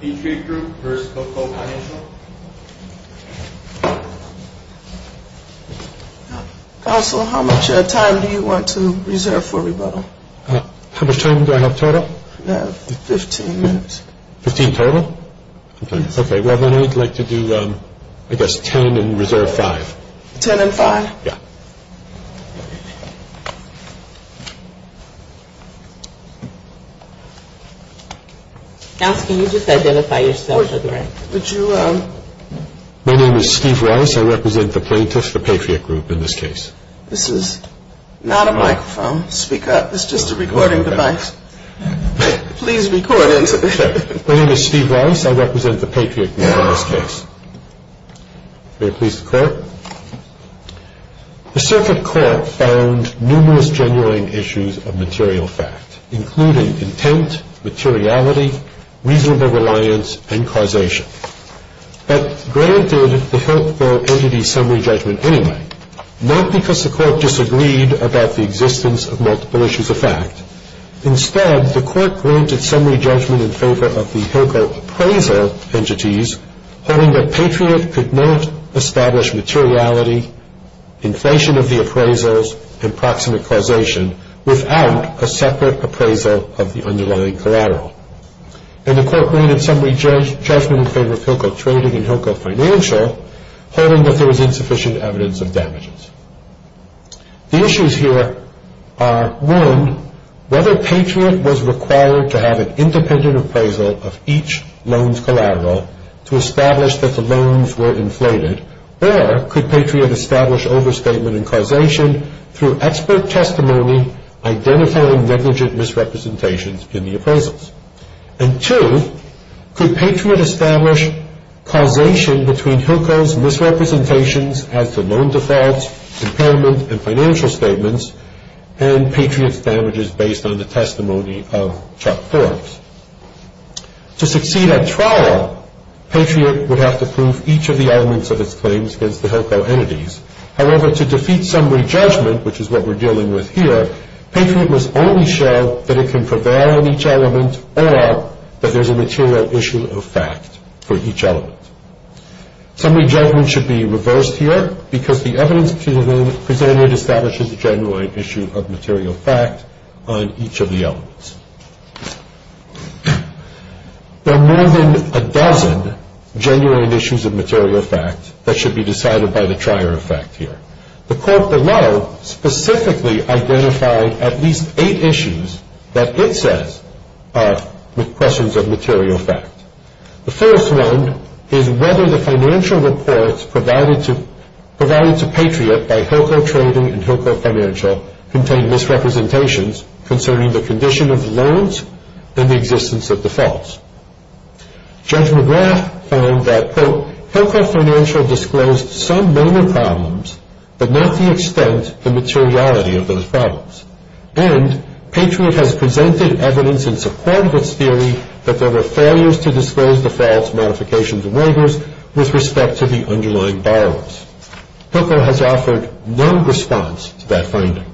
Patriot Group v. Hilco Financial Counsel, how much time do you want to reserve for rebuttal? How much time do I have total? Fifteen minutes. Fifteen total? Okay, well then I'd like to do, I guess, ten and reserve five. Ten and five? Yeah. Now can you just identify yourself for the record? My name is Steve Rice. I represent the plaintiffs, the Patriot Group in this case. This is not a microphone. Speak up. It's just a recording device. Please record it. My name is Steve Rice. I represent the Patriot Group in this case. May it please the Court? The circuit court found numerous genuine issues of material fact, including intent, materiality, reasonable reliance, and causation. But granted the Hilco entity's summary judgment anyway, not because the court disagreed about the existence of multiple issues of fact. Instead, the court granted summary judgment in favor of the Hilco appraisal entities, holding that Patriot could not establish materiality, inflation of the appraisals, and proximate causation without a separate appraisal of the underlying collateral. And the court granted summary judgment in favor of Hilco Trading and Hilco Financial, holding that there was insufficient evidence of damages. The issues here are, one, whether Patriot was required to have an independent appraisal of each loan's collateral to establish that the loans were inflated, or could Patriot establish overstatement and causation through expert testimony identifying negligent misrepresentations in the appraisals? And two, could Patriot establish causation between Hilco's misrepresentations as to loan defaults, impairment, and financial statements, and Patriot's damages based on the testimony of Chuck Forbes? To succeed at trial, Patriot would have to prove each of the elements of its claims against the Hilco entities. However, to defeat summary judgment, which is what we're dealing with here, Patriot must only show that it can prevail on each element or that there's a material issue of fact for each element. Summary judgment should be reversed here because the evidence presented establishes a genuine issue of material fact on each of the elements. There are more than a dozen genuine issues of material fact that should be decided by the trier of fact here. The court below specifically identified at least eight issues that it says are questions of material fact. The first one is whether the financial reports provided to Patriot by Hilco Trading and Hilco Financial contain misrepresentations concerning the condition of loans and the existence of defaults. Judge McGrath found that, quote, Hilco Financial disclosed some minor problems but not the extent and materiality of those problems. And Patriot has presented evidence in support of its theory that there were failures to disclose defaults, modifications, and waivers with respect to the underlying borrowers. Hilco has offered no response to that finding.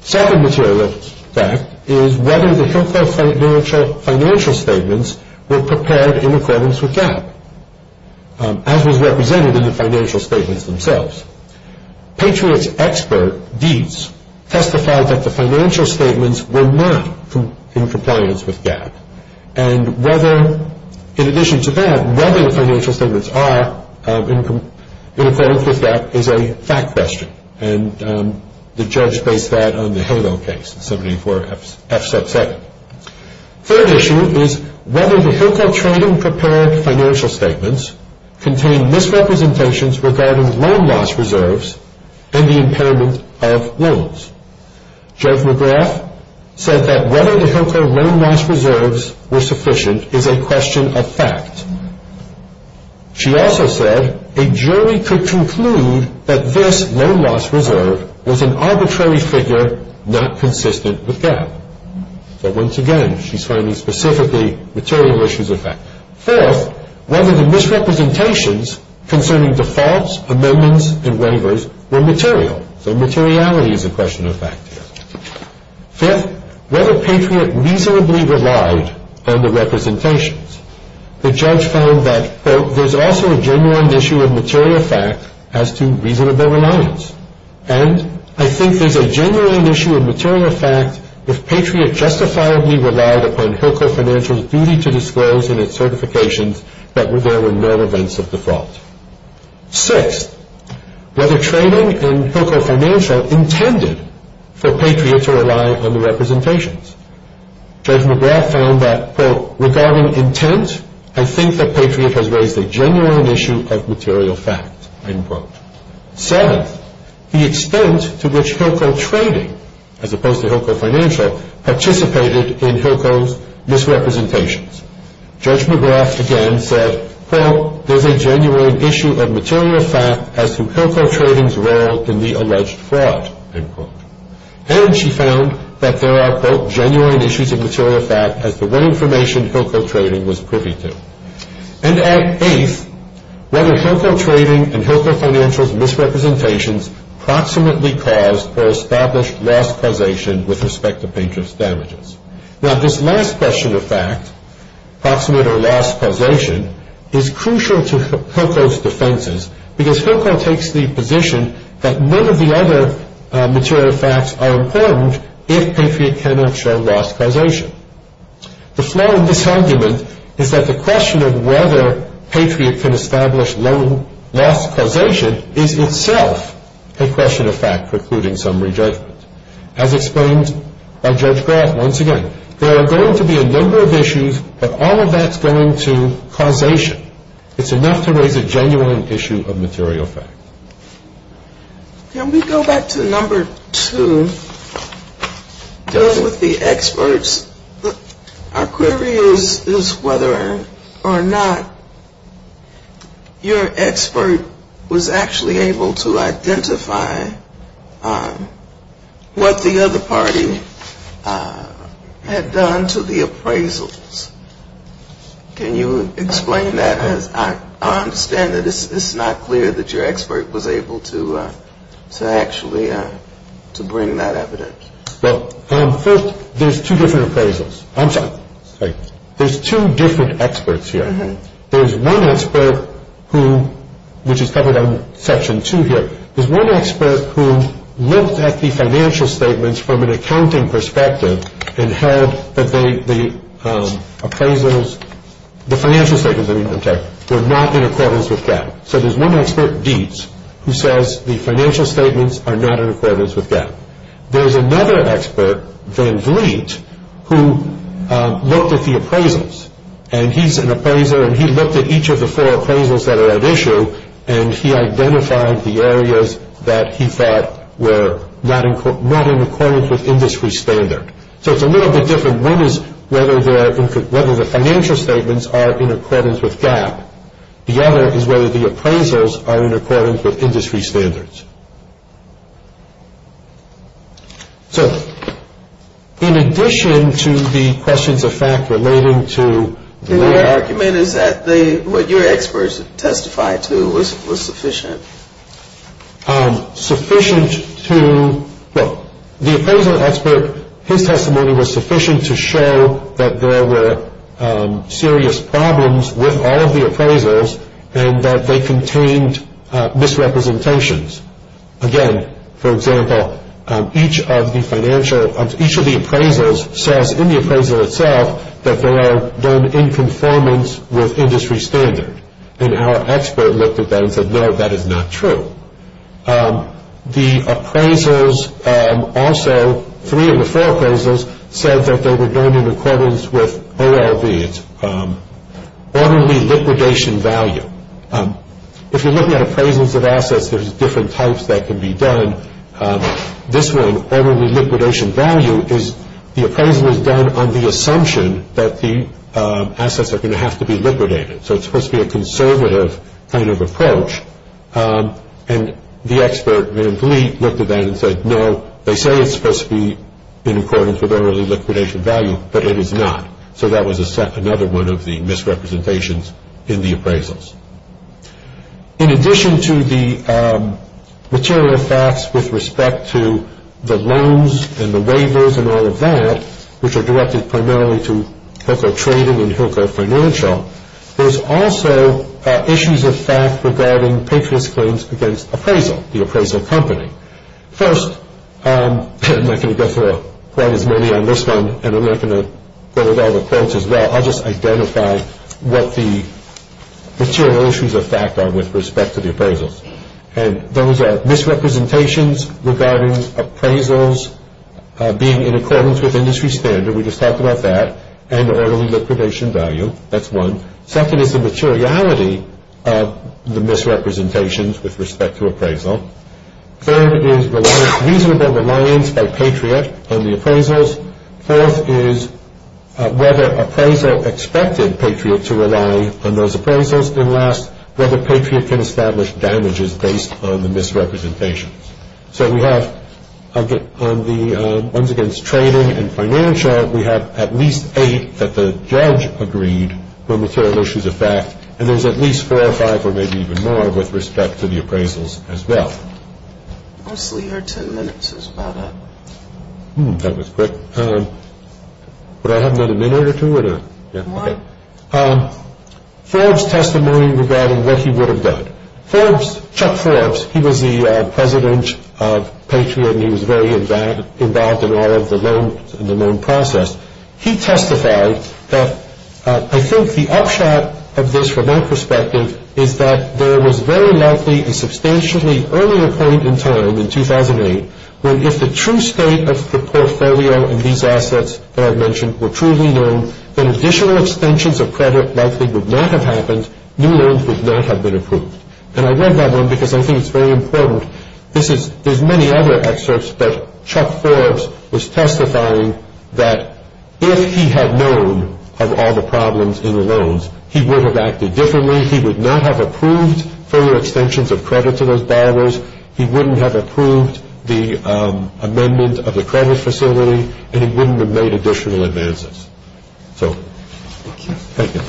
Second material fact is whether the Hilco financial statements were prepared in accordance with GAAP, as was represented in the financial statements themselves. Patriot's expert, Deeds, testified that the financial statements were not in compliance with GAAP. And whether, in addition to that, whether the financial statements are in accordance with GAAP is a fact question. And the judge based that on the Hilco case, 74F sub 7. Third issue is whether the Hilco Trading prepared financial statements contain misrepresentations regarding loan loss reserves and the impairment of loans. Judge McGrath said that whether the Hilco loan loss reserves were sufficient is a question of fact. She also said a jury could conclude that this loan loss reserve was an arbitrary figure not consistent with GAAP. But once again, she's finding specifically material issues of fact. Fourth, whether the misrepresentations concerning defaults, amendments, and waivers were material. So materiality is a question of fact here. Fifth, whether Patriot reasonably relied on the representations. The judge found that, quote, there's also a genuine issue of material fact as to reasonable reliance. And I think there's a genuine issue of material fact if Patriot justifiably relied upon Hilco Financial's duty to disclose in its certifications that there were no events of default. Sixth, whether Trading and Hilco Financial intended for Patriot to rely on the representations. Judge McGrath found that, quote, regarding intent, I think that Patriot has raised a genuine issue of material fact, end quote. Seventh, the extent to which Hilco Trading, as opposed to Hilco Financial, participated in Hilco's misrepresentations. Judge McGrath again said, quote, there's a genuine issue of material fact as to Hilco Trading's role in the alleged fraud, end quote. And she found that there are, quote, genuine issues of material fact as to what information Hilco Trading was privy to. And at eighth, whether Hilco Trading and Hilco Financial's misrepresentations proximately caused or established loss causation with respect to Patriot's damages. Now, this last question of fact, proximate or loss causation, is crucial to Hilco's defenses, because Hilco takes the position that none of the other material facts are important if Patriot cannot show loss causation. The flaw in this argument is that the question of whether Patriot can establish loss causation is itself a question of fact precluding summary judgment. As explained by Judge Grath once again, there are going to be a number of issues, but all of that's going to causation. It's enough to raise a genuine issue of material fact. Can we go back to number two, dealing with the experts? Our query is whether or not your expert was actually able to identify what the other party had done to the appraisals. Can you explain that? Because I understand that it's not clear that your expert was able to actually bring that evidence. Well, first, there's two different appraisals. I'm sorry. There's two different experts here. There's one expert who, which is covered under Section 2 here, there's one expert who looked at the financial statements from an accounting perspective and held that the appraisals, the financial statements, I mean, were not in accordance with GAAP. So there's one expert, Dietz, who says the financial statements are not in accordance with GAAP. There's another expert, Van Vliet, who looked at the appraisals. And he's an appraiser, and he looked at each of the four appraisals that are at issue, and he identified the areas that he thought were not in accordance with industry standard. So it's a little bit different. One is whether the financial statements are in accordance with GAAP. The other is whether the appraisals are in accordance with industry standards. So in addition to the questions of fact relating to the argument is that the, what your experts testified to was sufficient. Sufficient to, well, the appraisal expert, his testimony was sufficient to show that there were serious problems with all of the appraisals and that they contained misrepresentations. Again, for example, each of the financial, each of the appraisals says in the appraisal itself that they are done in conformance with industry standard. And our expert looked at that and said, no, that is not true. The appraisals also, three of the four appraisals, said that they were done in accordance with OLV, it's orderly liquidation value. If you're looking at appraisals of assets, there's different types that can be done. This one, orderly liquidation value, is the appraisal is done on the assumption that the assets are going to have to be liquidated. So it's supposed to be a conservative kind of approach. And the expert, Van Vliet, looked at that and said, no, they say it's supposed to be in accordance with orderly liquidation value, but it is not. So that was another one of the misrepresentations in the appraisals. In addition to the material facts with respect to the loans and the waivers and all of that, which are directed primarily to Hilco Trading and Hilco Financial, there's also issues of fact regarding patron's claims against appraisal, the appraisal company. First, I'm not going to go through quite as many on this one, and I'm not going to go over all the quotes as well. I'll just identify what the material issues of fact are with respect to the appraisals. And those are misrepresentations regarding appraisals being in accordance with industry standard, we just talked about that, and orderly liquidation value. That's one. Second is the materiality of the misrepresentations with respect to appraisal. Third is the reasonable reliance by Patriot on the appraisals. Fourth is whether appraisal expected Patriot to rely on those appraisals. And last, whether Patriot can establish damages based on the misrepresentations. So we have on the ones against trading and financial, we have at least eight that the judge agreed were material issues of fact, and there's at least four or five or maybe even more with respect to the appraisals as well. Mostly your ten minutes is about up. That was quick. Would I have another minute or two? One. Forbes' testimony regarding what he would have done. Forbes, Chuck Forbes, he was the president of Patriot, and he was very involved in all of the loan process. He testified that, I think the upshot of this from my perspective is that there was very likely a substantially earlier point in time, in 2008, where if the true state of the portfolio in these assets that I've mentioned were truly known, then additional extensions of credit likely would not have happened, new loans would not have been approved. And I read that one because I think it's very important. There's many other excerpts, but Chuck Forbes was testifying that if he had known of all the problems in the loans, he would have acted differently. He would not have approved further extensions of credit to those borrowers. He wouldn't have approved the amendment of the credit facility, and he wouldn't have made additional advances. So thank you.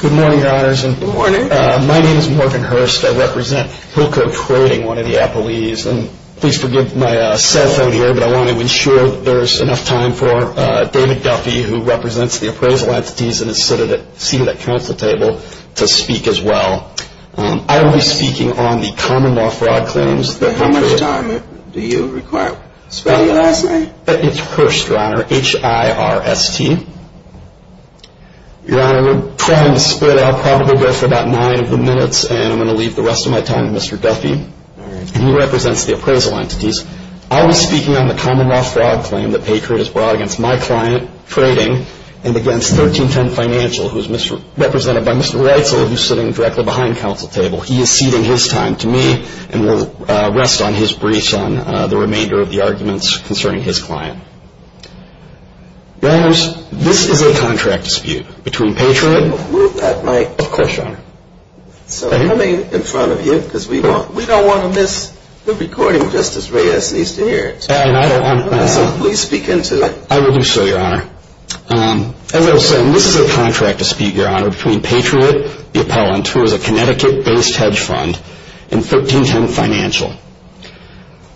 Good morning, Your Honors. Good morning. My name is Morgan Hurst. I represent Hillcote Trading, one of the appellees. And please forgive my cell phone here, but I want to ensure that there's enough time for David Duffy, who represents the appraisal entities and is seated at council table, to speak as well. I will be speaking on the common law fraud claims. How much time do you require? It's Hurst, Your Honor, H-I-R-S-T. Your Honor, we're trying to split. I'll probably go for about nine of the minutes, and I'm going to leave the rest of my time to Mr. Duffy. All right. And he represents the appraisal entities. I will be speaking on the common law fraud claim that Patriot has brought against my client, trading, and against 1310 Financial, who is represented by Mr. Reitzel, who is sitting directly behind council table. He is ceding his time to me, and will rest on his briefs on the remainder of the arguments concerning his client. Your Honors, this is a contract dispute between Patriot and my client. Of course, Your Honor. So coming in front of you, because we don't want to miss the recording, Justice Reitzel needs to hear it. So please speak into it. I will do so, Your Honor. As I was saying, this is a contract dispute, Your Honor, between Patriot, the appellant, who is a Connecticut-based hedge fund, and 1310 Financial.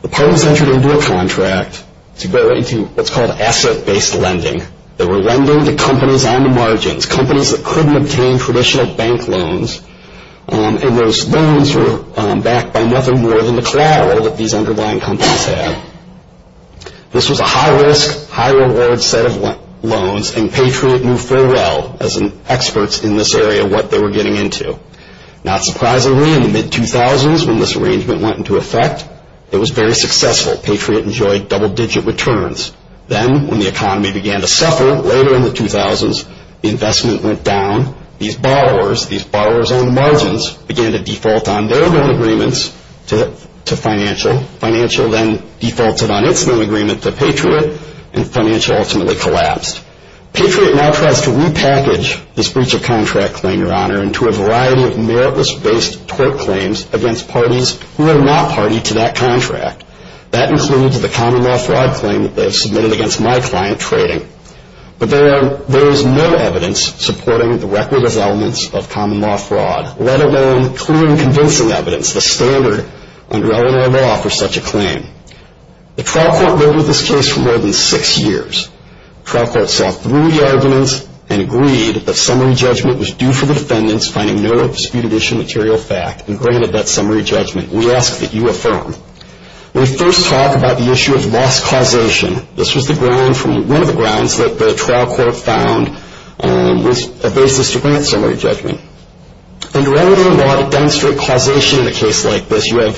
The parties entered into a contract to go into what's called asset-based lending. They were lending to companies on the margins, companies that couldn't obtain traditional bank loans, and those loans were backed by nothing more than the collateral that these underlying companies had. This was a high-risk, high-reward set of loans, and Patriot knew full well, as experts in this area, what they were getting into. Not surprisingly, in the mid-2000s, when this arrangement went into effect, it was very successful. Patriot enjoyed double-digit returns. Then, when the economy began to suffer later in the 2000s, the investment went down. These borrowers, these borrowers on the margins, began to default on their loan agreements to Financial. Financial then defaulted on its loan agreement to Patriot, and Financial ultimately collapsed. Patriot now tries to repackage this breach of contract claim, Your Honor, into a variety of meritless-based tort claims against parties who are not party to that contract. That includes the common law fraud claim that they have submitted against my client, Trading. But there is no evidence supporting the record as elements of common law fraud, let alone clear and convincing evidence, the standard under Illinois law for such a claim. The trial court voted this case for more than six years. The trial court saw through the arguments and agreed that summary judgment was due for the defendants, finding no disputed issue material fact, and granted that summary judgment. We ask that you affirm. We first talk about the issue of loss causation. This was one of the grounds that the trial court found was a basis to grant summary judgment. Under Illinois law to demonstrate causation in a case like this, you have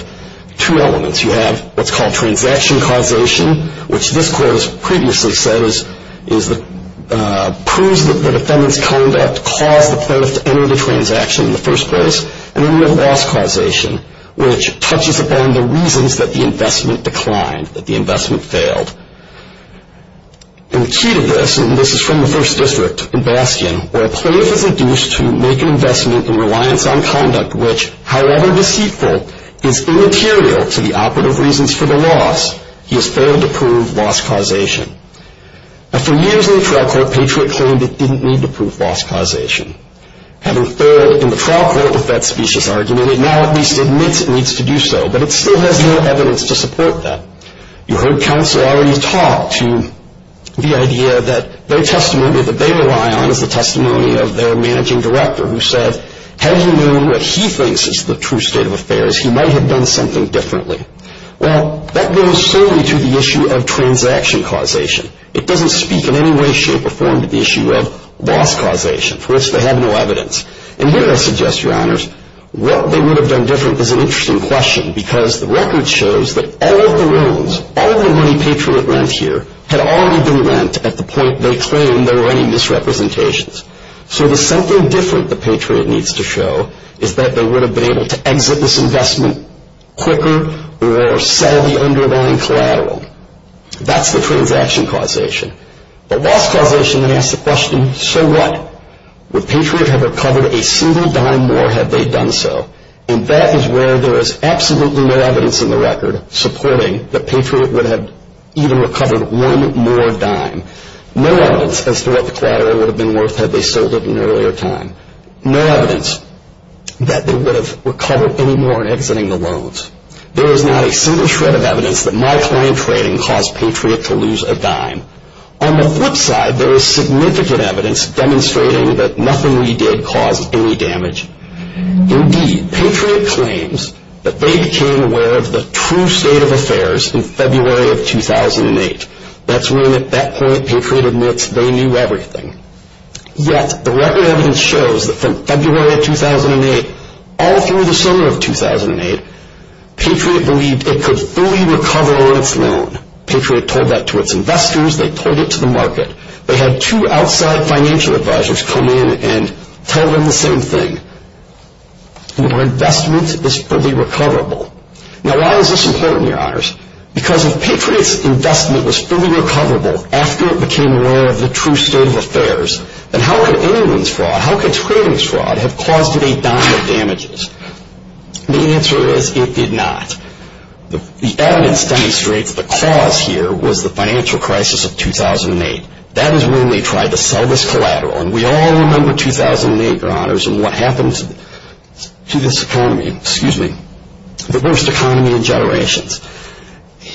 two elements. You have what's called transaction causation, which this court has previously said proves that the defendant's conduct caused the plaintiff to enter the transaction in the first place. And then you have loss causation, which touches upon the reasons that the investment declined, that the investment failed. And the key to this, and this is from the first district in Bastion, where a plaintiff is induced to make an investment in reliance on conduct which, however deceitful, is immaterial to the operative reasons for the loss. He has failed to prove loss causation. After years in the trial court, Patriot claimed it didn't need to prove loss causation. Having failed in the trial court with that specious argument, it now at least admits it needs to do so, but it still has no evidence to support that. You heard counsel already talk to the idea that their testimony that they rely on is the testimony of their managing director, who said, had he known what he thinks is the true state of affairs, he might have done something differently. Well, that goes solely to the issue of transaction causation. It doesn't speak in any way, shape, or form to the issue of loss causation. First, they have no evidence. And here I suggest, Your Honors, what they would have done different is an interesting question, because the record shows that all of the loans, all of the money Patriot lent here, had already been lent at the point they claimed there were any misrepresentations. So there's something different that Patriot needs to show, is that they would have been able to exit this investment quicker or sell the underlying collateral. That's the transaction causation. The loss causation then asks the question, so what? Would Patriot have recovered a single dime more had they done so? And that is where there is absolutely no evidence in the record supporting that Patriot would have even recovered one more dime. No evidence as to what the collateral would have been worth had they sold it at an earlier time. No evidence that they would have recovered any more in exiting the loans. There is not a single shred of evidence that my client trading caused Patriot to lose a dime. On the flip side, there is significant evidence demonstrating that nothing we did caused any damage. Indeed, Patriot claims that they became aware of the true state of affairs in February of 2008. That's when, at that point, Patriot admits they knew everything. Yet, the record evidence shows that from February of 2008 all through the summer of 2008, Patriot believed it could fully recover on its loan. Patriot told that to its investors. They told it to the market. They had two outside financial advisors come in and tell them the same thing. Your investment is fully recoverable. Now why is this important, your honors? Because if Patriot's investment was fully recoverable after it became aware of the true state of affairs, then how could anyone's fraud, how could trading's fraud, have caused it a dime of damages? The answer is it did not. The evidence demonstrates the cause here was the financial crisis of 2008. That is when they tried to sell this collateral. And we all remember 2008, your honors, and what happened to this economy. Excuse me. The worst economy in generations.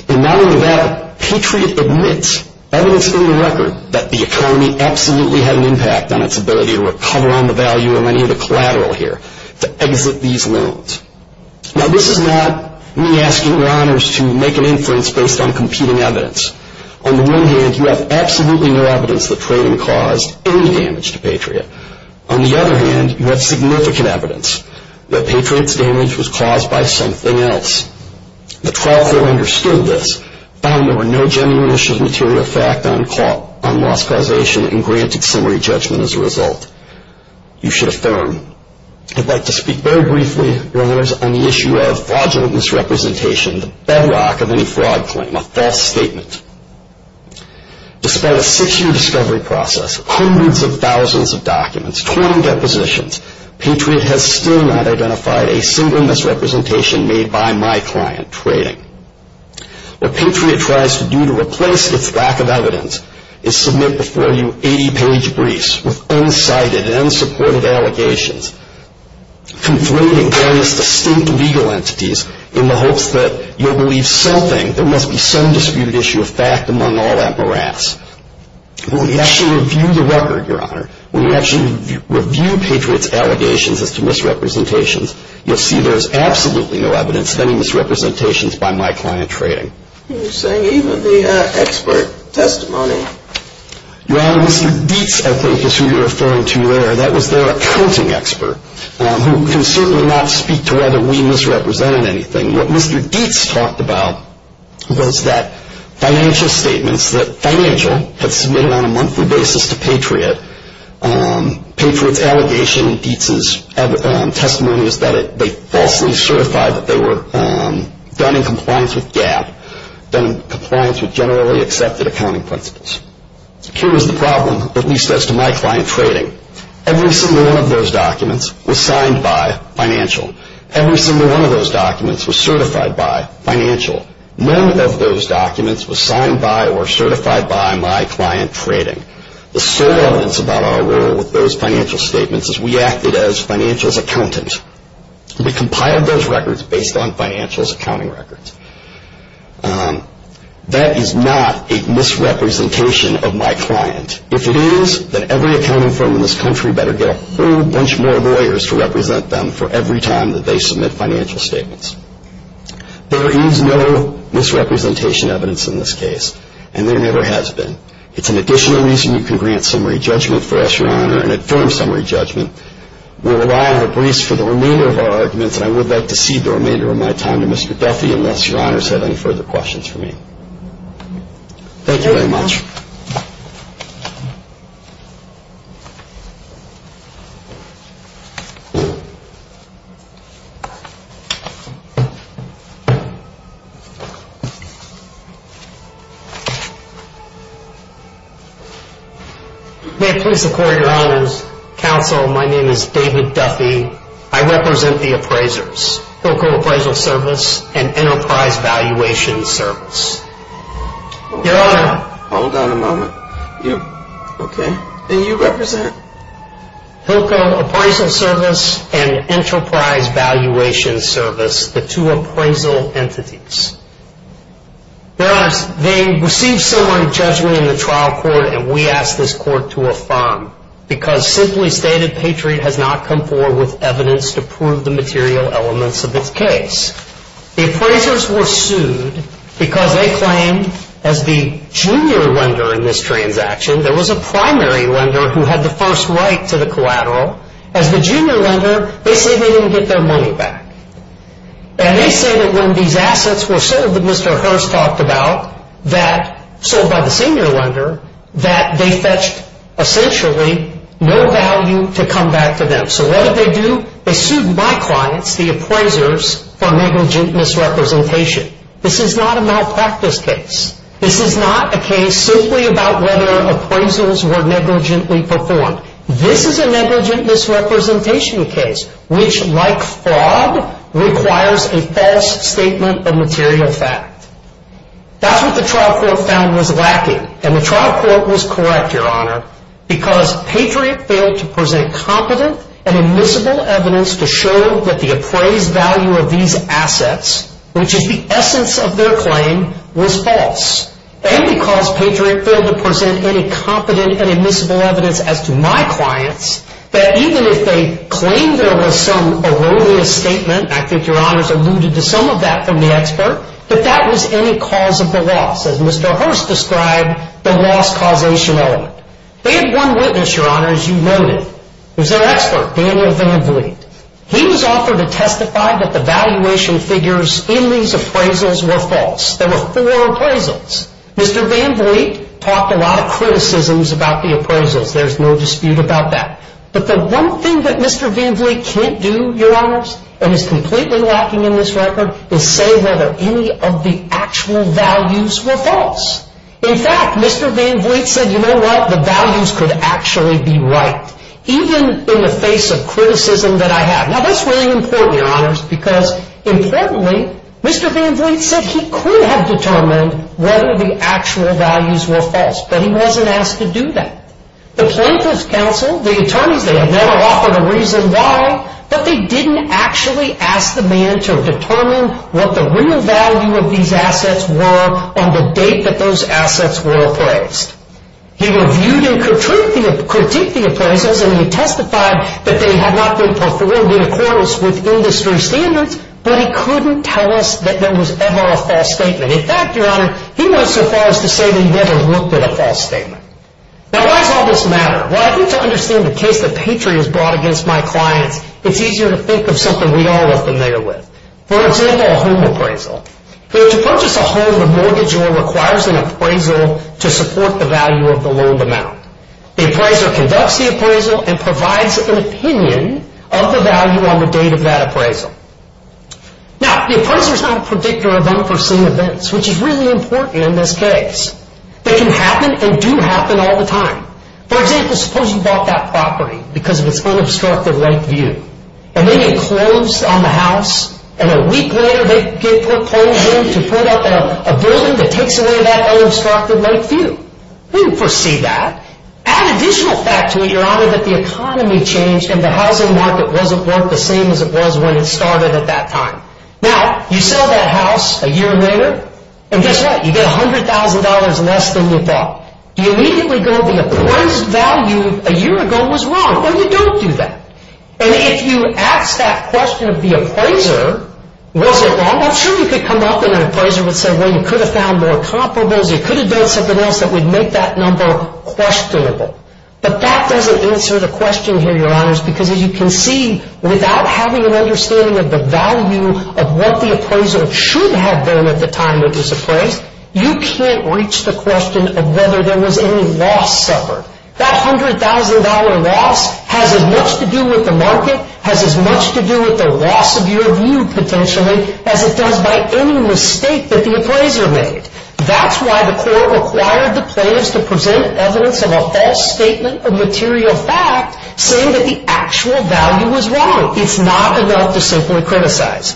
And now in the battle, Patriot admits, evidence in the record, that the economy absolutely had an impact on its ability to recover on the value of any of the collateral here, to exit these loans. Now this is not me asking your honors to make an inference based on competing evidence. On the one hand, you have absolutely no evidence that trading caused any damage to Patriot. On the other hand, you have significant evidence that Patriot's damage was caused by something else. The trial court understood this, found there were no genuine issues of material effect on loss causation, and granted summary judgment as a result. You should affirm. I'd like to speak very briefly, your honors, on the issue of fraudulent misrepresentation, the bedrock of any fraud claim, a false statement. Despite a six-year discovery process, hundreds of thousands of documents, 20 depositions, Patriot has still not identified a single misrepresentation made by my client, trading. What Patriot tries to do to replace its lack of evidence is submit before you 80-page briefs with unsighted and unsupported allegations, conflating various distinct legal entities in the hopes that you'll believe something. There must be some disputed issue of fact among all that morass. When we actually review the record, your honor, when we actually review Patriot's allegations as to misrepresentations, you'll see there's absolutely no evidence of any misrepresentations by my client, trading. You're saying even the expert testimony? Your honor, Mr. Dietz, I think, is who you're referring to there. That was their accounting expert, who can certainly not speak to whether we misrepresented anything. What Mr. Dietz talked about was that financial statements that Financial had submitted on a monthly basis to Patriot, Patriot's allegation and Dietz's testimony is that they falsely certified that they were done in compliance with GAAP, done in compliance with generally accepted accounting principles. Here is the problem, at least as to my client, trading. Every single one of those documents was signed by Financial. Every single one of those documents was certified by Financial. None of those documents was signed by or certified by my client, trading. The sole evidence about our role with those financial statements is we acted as Financial's accountant. We compiled those records based on Financial's accounting records. That is not a misrepresentation of my client. If it is, then every accounting firm in this country better get a whole bunch more lawyers to represent them for every time that they submit financial statements. There is no misrepresentation evidence in this case, and there never has been. It's an additional reason you can grant summary judgment for us, your honor, an informed summary judgment. We rely on our briefs for the removal of our arguments, and I would like to cede the remainder of my time to Mr. Duffy unless your honors have any further questions for me. Thank you very much. May it please the court, your honors, counsel, my name is David Duffy. I represent the appraisers, Local Appraisal Service and Enterprise Valuation Service. Hold on a moment. Okay. And you represent? Local Appraisal Service and Enterprise Valuation Service, the two appraisal entities. Your honors, they received summary judgment in the trial court, and we asked this court to affirm, because simply stated, Patriot has not come forward with evidence to prove the material elements of its case. The appraisers were sued because they claimed as the junior lender in this transaction, there was a primary lender who had the first right to the collateral. As the junior lender, they say they didn't get their money back. And they say that when these assets were sold that Mr. Hurst talked about, that sold by the senior lender, that they fetched essentially no value to come back to them. So what did they do? They sued my clients, the appraisers, for negligent misrepresentation. This is not a malpractice case. This is not a case simply about whether appraisals were negligently performed. This is a negligent misrepresentation case, which, like fraud, requires a false statement of material fact. That's what the trial court found was lacking, and the trial court was correct, your honor, because Patriot failed to present competent and admissible evidence to show that the appraised value of these assets, which is the essence of their claim, was false. And because Patriot failed to present any competent and admissible evidence as to my clients, that even if they claimed there was some erroneous statement, and I think your honors alluded to some of that from the expert, that that was any cause of the loss. As Mr. Hurst described, the loss causation element. They had one witness, your honors, you noted. It was their expert, Daniel Van Vliet. He was offered to testify that the valuation figures in these appraisals were false. There were four appraisals. Mr. Van Vliet talked a lot of criticisms about the appraisals. There's no dispute about that. But the one thing that Mr. Van Vliet can't do, your honors, and is completely lacking in this record, is say whether any of the actual values were false. In fact, Mr. Van Vliet said, you know what, the values could actually be right, even in the face of criticism that I have. Now, that's really important, your honors, because importantly, Mr. Van Vliet said he could have determined whether the actual values were false, but he wasn't asked to do that. The plaintiff's counsel, the attorneys, they had never offered a reason why, but they didn't actually ask the man to determine what the real value of these assets were on the date that those assets were appraised. He reviewed and critiqued the appraisals, and he testified that they had not been performed in accordance with industry standards, but he couldn't tell us that there was ever a false statement. In fact, your honor, he went so far as to say that he never looked at a false statement. Now, why does all this matter? Well, I think to understand the case that Patriot has brought against my clients, it's easier to think of something we all have been there with. For example, a home appraisal. To purchase a home, the mortgagor requires an appraisal to support the value of the loaned amount. The appraiser conducts the appraisal and provides an opinion of the value on the date of that appraisal. Now, the appraiser is not a predictor of unforeseen events, which is really important in this case. They can happen and do happen all the time. For example, suppose you bought that property because of its unobstructed lake view, and then you closed on the house, and a week later they get proposal to put up a building that takes away that unobstructed lake view. We didn't foresee that. Add additional fact to it, your honor, that the economy changed, and the housing market wasn't worth the same as it was when it started at that time. Now, you sell that house a year later, and guess what? You get $100,000 less than you thought. You immediately go, the appraised value a year ago was wrong, or you don't do that. And if you ask that question of the appraiser, was it wrong? I'm sure you could come up and an appraiser would say, well, you could have found more comparables. You could have done something else that would make that number questionable. But that doesn't answer the question here, your honors, because as you can see, without having an understanding of the value of what the appraiser should have been at the time it was appraised, you can't reach the question of whether there was any loss suffered. That $100,000 loss has as much to do with the market, has as much to do with the loss of your view potentially, as it does by any mistake that the appraiser made. That's why the court required the plaintiffs to present evidence of a false statement of material fact saying that the actual value was wrong. It's not enough to simply criticize.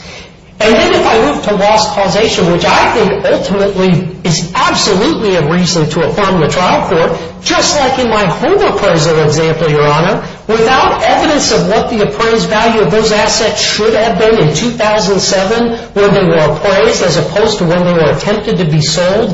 And then if I move to loss causation, which I think ultimately is absolutely a reason to affirm the trial court, just like in my home appraisal example, your honor, without evidence of what the appraised value of those assets should have been in 2007 when they were appraised as opposed to when they were attempted to be sold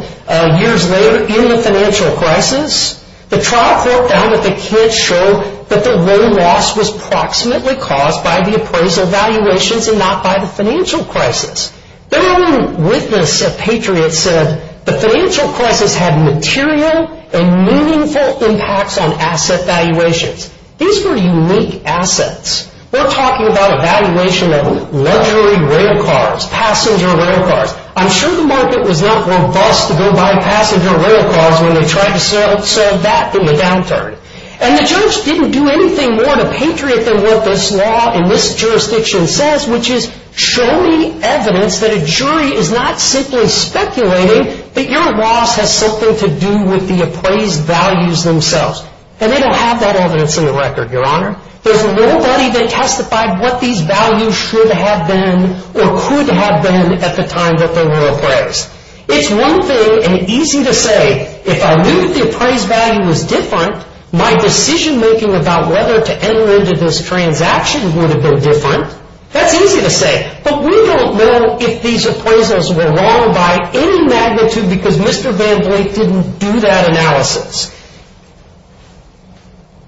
years later in the financial crisis, the trial court found that the kids showed that the real loss was approximately caused by the appraisal valuations and not by the financial crisis. Their own witness at Patriot said the financial crisis had material and meaningful impacts on asset valuations. These were unique assets. We're talking about a valuation of luxury rail cars, passenger rail cars. I'm sure the market was not robust to go by passenger rail cars when they tried to sell that in the downturn. And the judge didn't do anything more to Patriot than what this law in this jurisdiction says, which is show me evidence that a jury is not simply speculating that your loss has something to do with the appraised values themselves. And they don't have that evidence in the record, your honor. There's nobody that testified what these values should have been or could have been at the time that they were appraised. It's one thing and easy to say, if I knew the appraised value was different, my decision making about whether to enter into this transaction would have been different. That's easy to say. But we don't know if these appraisals were wrong by any magnitude because Mr. Van Vliet didn't do that analysis.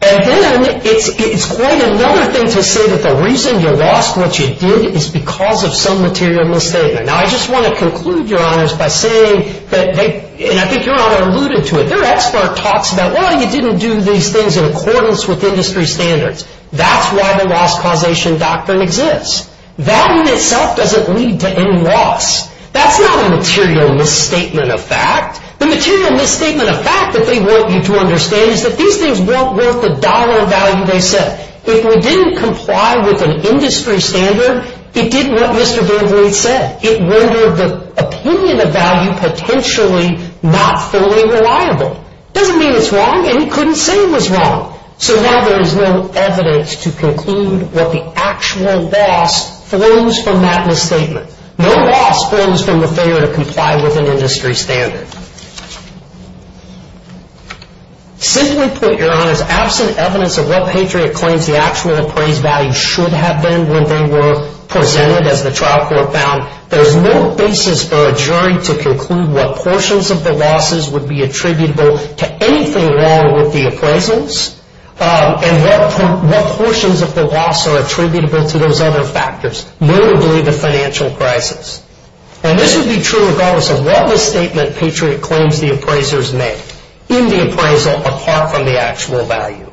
And then it's quite another thing to say that the reason you lost what you did is because of some material misstatement. Now, I just want to conclude, your honors, by saying that they, and I think your honor alluded to it, their expert talks about, well, you didn't do these things in accordance with industry standards. That's why the loss causation doctrine exists. That in itself doesn't lead to any loss. That's not a material misstatement of fact. The material misstatement of fact that they want you to understand is that these things weren't worth the dollar value they said. If we didn't comply with an industry standard, it did what Mr. Van Vliet said. It rendered the opinion of value potentially not fully reliable. It doesn't mean it's wrong, and he couldn't say it was wrong. So now there is no evidence to conclude what the actual loss flows from that misstatement. No loss flows from the failure to comply with an industry standard. Simply put, your honors, absent evidence of what Patriot claims the actual appraised value should have been when they were presented, as the trial court found, there's no basis for a jury to conclude what portions of the losses would be attributable to anything wrong with the appraisals and what portions of the loss are attributable to those other factors, notably the financial crisis. And this would be true regardless of what misstatement Patriot claims the appraisers make in the appraisal apart from the actual value.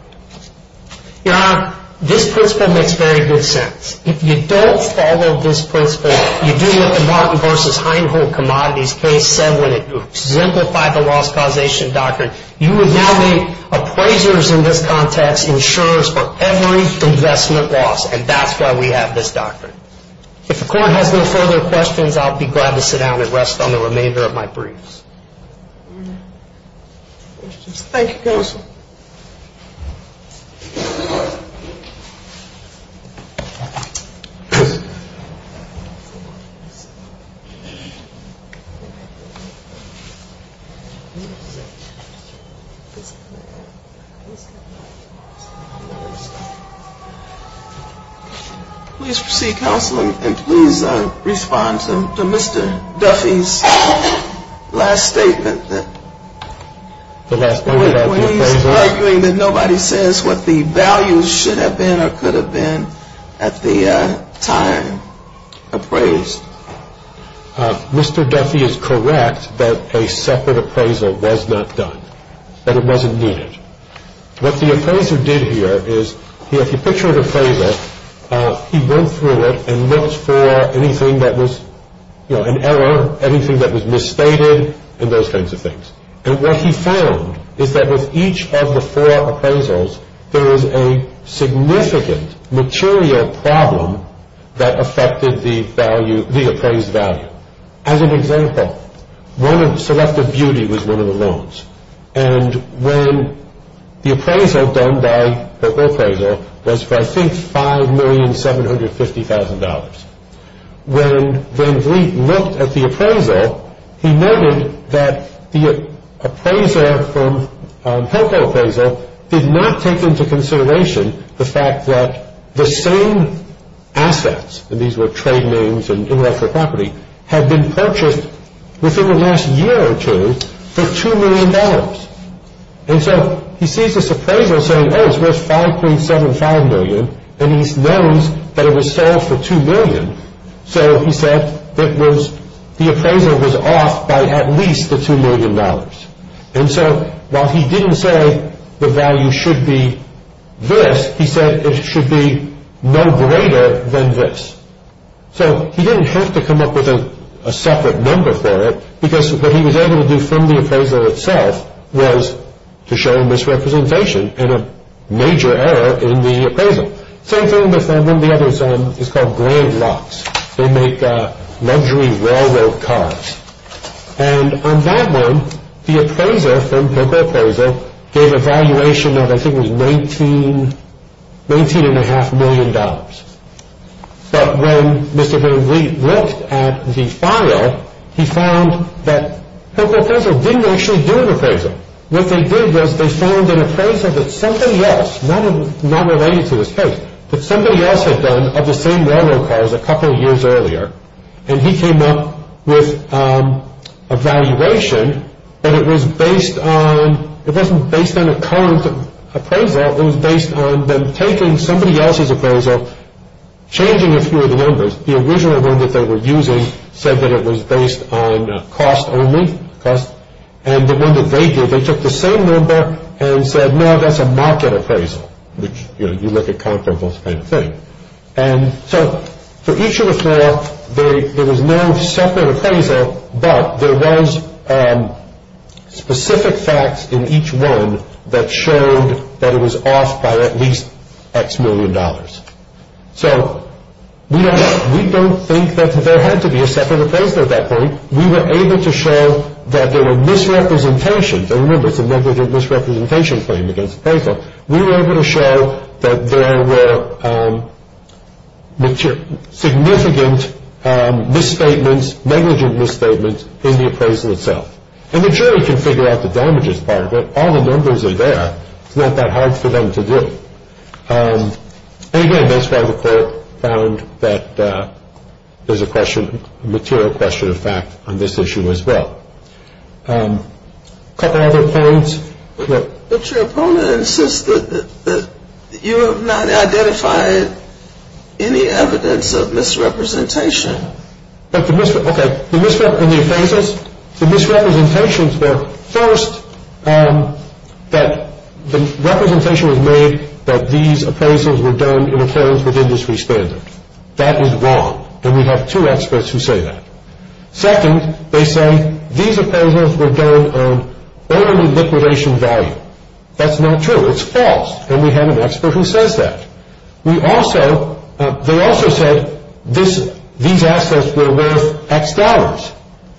Your honor, this principle makes very good sense. If you don't follow this principle, you do what the Martin v. Heinhold commodities case said when it exemplified the loss causation doctrine, you would now make appraisers in this context insurers for every investment loss, and that's why we have this doctrine. If the court has no further questions, I'll be glad to sit down and rest on the remainder of my briefs. Thank you, counsel. Please proceed, counsel, and please respond to Mr. Duffy's last statement. When he's arguing that nobody says what the values should have been or could have been at the time appraised. Mr. Duffy is correct that a separate appraisal was not done, that it wasn't needed. What the appraiser did here is, if you picture an appraiser, he went through it and looked for anything that was an error, anything that was misstated, and those kinds of things. And what he found is that with each of the four appraisals, there was a significant material problem that affected the appraised value. As an example, selective beauty was one of the loans. And when the appraisal done by the appraisal was for, I think, $5,750,000. When Van Vliet looked at the appraisal, he noted that the appraiser from Helco appraisal did not take into consideration the fact that the same assets, and these were trade names and intellectual property, had been purchased within the last year or two for $2,000,000. And so he sees this appraisal saying, oh, it's worth $5,750,000, and he knows that it was sold for $2,000,000. So he said that the appraisal was off by at least the $2,000,000. And so while he didn't say the value should be this, he said it should be no greater than this. So he didn't have to come up with a separate number for it, because what he was able to do from the appraisal itself was to show a misrepresentation and a major error in the appraisal. Same thing with one of the others. It's called Grand Locks. They make luxury railroad cars. And on that one, the appraiser from Helco appraisal gave a valuation of, I think, it was $19.5 million. But when Mr. Van Vliet looked at the file, he found that Helco appraisal didn't actually do an appraisal. What they did was they found an appraisal that somebody else, not related to this case, that somebody else had done of the same railroad cars a couple of years earlier, and he came up with a valuation that it was based on, it wasn't based on a current appraisal, it was based on them taking somebody else's appraisal, changing a few of the numbers. The original one that they were using said that it was based on cost only, and the one that they did, they took the same number and said, no, that's a market appraisal, which you look at comparable kind of thing. And so for each of the four, there was no separate appraisal, but there was specific facts in each one that showed that it was off by at least X million dollars. So we don't think that there had to be a separate appraisal at that point. We were able to show that there were misrepresentations. And remember, it's a negligent misrepresentation claim against the appraisal. So we were able to show that there were significant misstatements, negligent misstatements in the appraisal itself. And the jury can figure out the damages part of it. All the numbers are there. It's not that hard for them to do. And again, that's why the court found that there's a question, a material question of fact on this issue as well. A couple other points. But your opponent insisted that you have not identified any evidence of misrepresentation. Okay. The misrepresentation in the appraisals, the misrepresentations were, first, that the representation was made that these appraisals were done in accordance with industry standards. That is wrong. And we have two experts who say that. Second, they say these appraisals were done on only liquidation value. That's not true. It's false. And we have an expert who says that. They also said these assets were worth X dollars.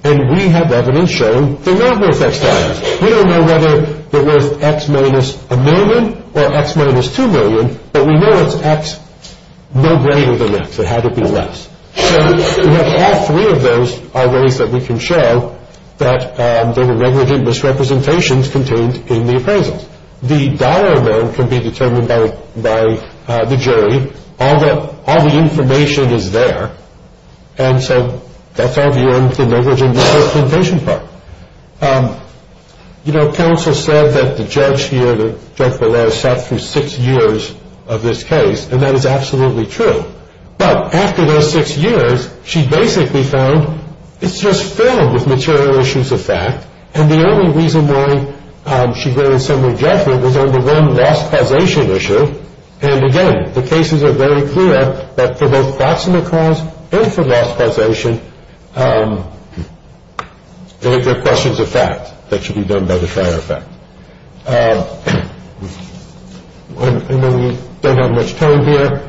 And we have evidence showing they're not worth X dollars. We don't know whether they're worth X minus a million or X minus two million, but we know it's X no greater than X. It had to be less. So we have all three of those are ways that we can show that there were negligent misrepresentations contained in the appraisals. The dollar amount can be determined by the jury. All the information is there. And so that's all beyond the negligent misrepresentation part. You know, counsel said that the judge here, the judge below, sat through six years of this case, and that is absolutely true. But after those six years, she basically found it's just filled with material issues of fact. And the only reason why she granted some rejection was on the one loss causation issue. And again, the cases are very clear that for both proximate cause and for loss causation, there are questions of fact that should be done by the fire effect. I know we don't have much time here.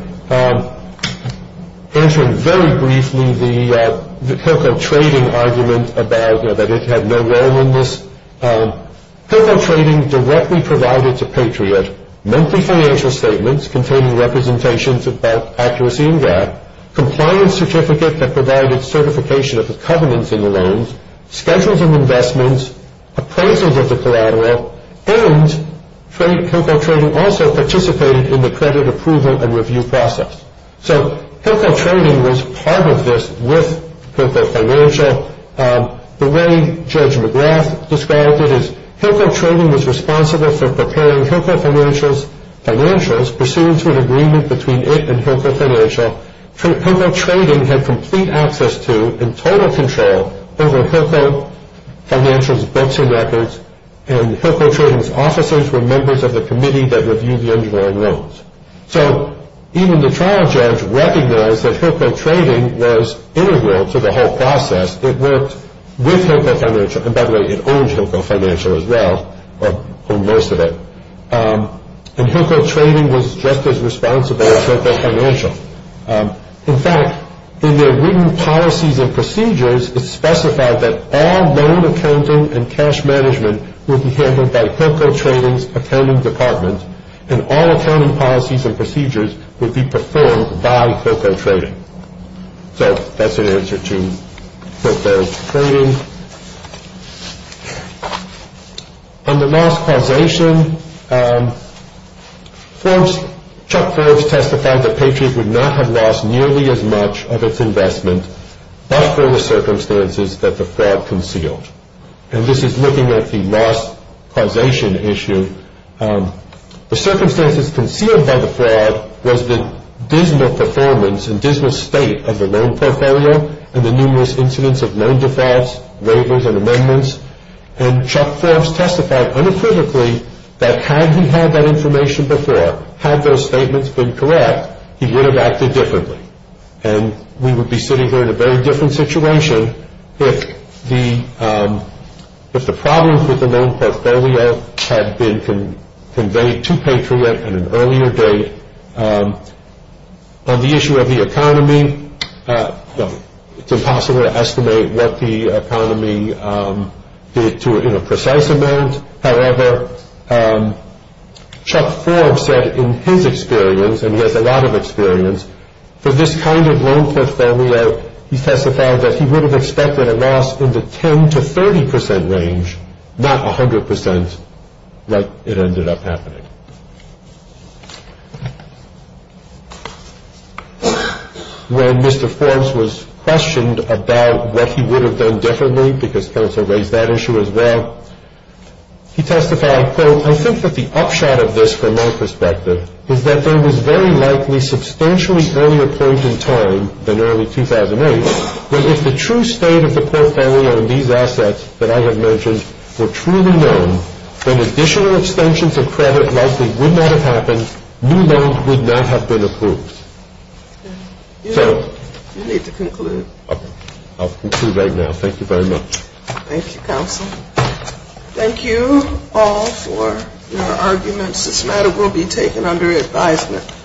Answering very briefly the co-co-trading argument about that it had no role in this. Co-co-trading directly provided to Patriot, monthly financial statements containing representations of bulk accuracy and gap, compliance certificate that provided certification of the covenants in the loans, schedules of investments, appraisals of the collateral, and co-co-trading also participated in the credit approval and review process. So co-co-trading was part of this with co-co-financial. The way Judge McGrath described it is co-co-trading was responsible for preparing co-co-financial's financials, pursuant to an agreement between it and co-co-financial. Co-co-trading had complete access to and total control over co-co-financial's books and records, and co-co-trading's officers were members of the committee that reviewed the underlying loans. So even the trial judge recognized that co-co-trading was integral to the whole process. It worked with co-co-financial. And by the way, it owned co-co-financial as well, or most of it. And co-co-trading was just as responsible as co-co-financial. In fact, in their written policies and procedures, it's specified that all loan accounting and cash management would be handled by co-co-trading's accounting department, and all accounting policies and procedures would be performed by co-co-trading. So that's an answer to co-co-trading. On the loss causation, Chuck Forbes testified that Patriot would not have lost nearly as much of its investment, but for the circumstances that the fraud concealed. And this is looking at the loss causation issue. The circumstances concealed by the fraud was the dismal performance and dismal state of the loan portfolio and the numerous incidents of loan defaults, waivers, and amendments. And Chuck Forbes testified unequivocally that had he had that information before, had those statements been correct, he would have acted differently. And we would be sitting here in a very different situation if the problems with the loan portfolio had been conveyed to Patriot at an earlier date. On the issue of the economy, it's impossible to estimate what the economy did to it in a precise amount. However, Chuck Forbes said in his experience, and he has a lot of experience, for this kind of loan portfolio, he testified that he would have expected a loss in the 10 to 30 percent range, not 100 percent like it ended up happening. When Mr. Forbes was questioned about what he would have done differently, because counsel raised that issue as well, he testified, quote, I think that the upshot of this, from my perspective, is that there was very likely substantially earlier point in time than early 2008, but if the true state of the portfolio and these assets that I have mentioned were truly known, then additional extensions of credit likely would not have happened, new loans would not have been approved. You need to conclude. I'll conclude right now. Thank you very much. Thank you, counsel. Thank you all for your arguments. This matter will be taken under advisement.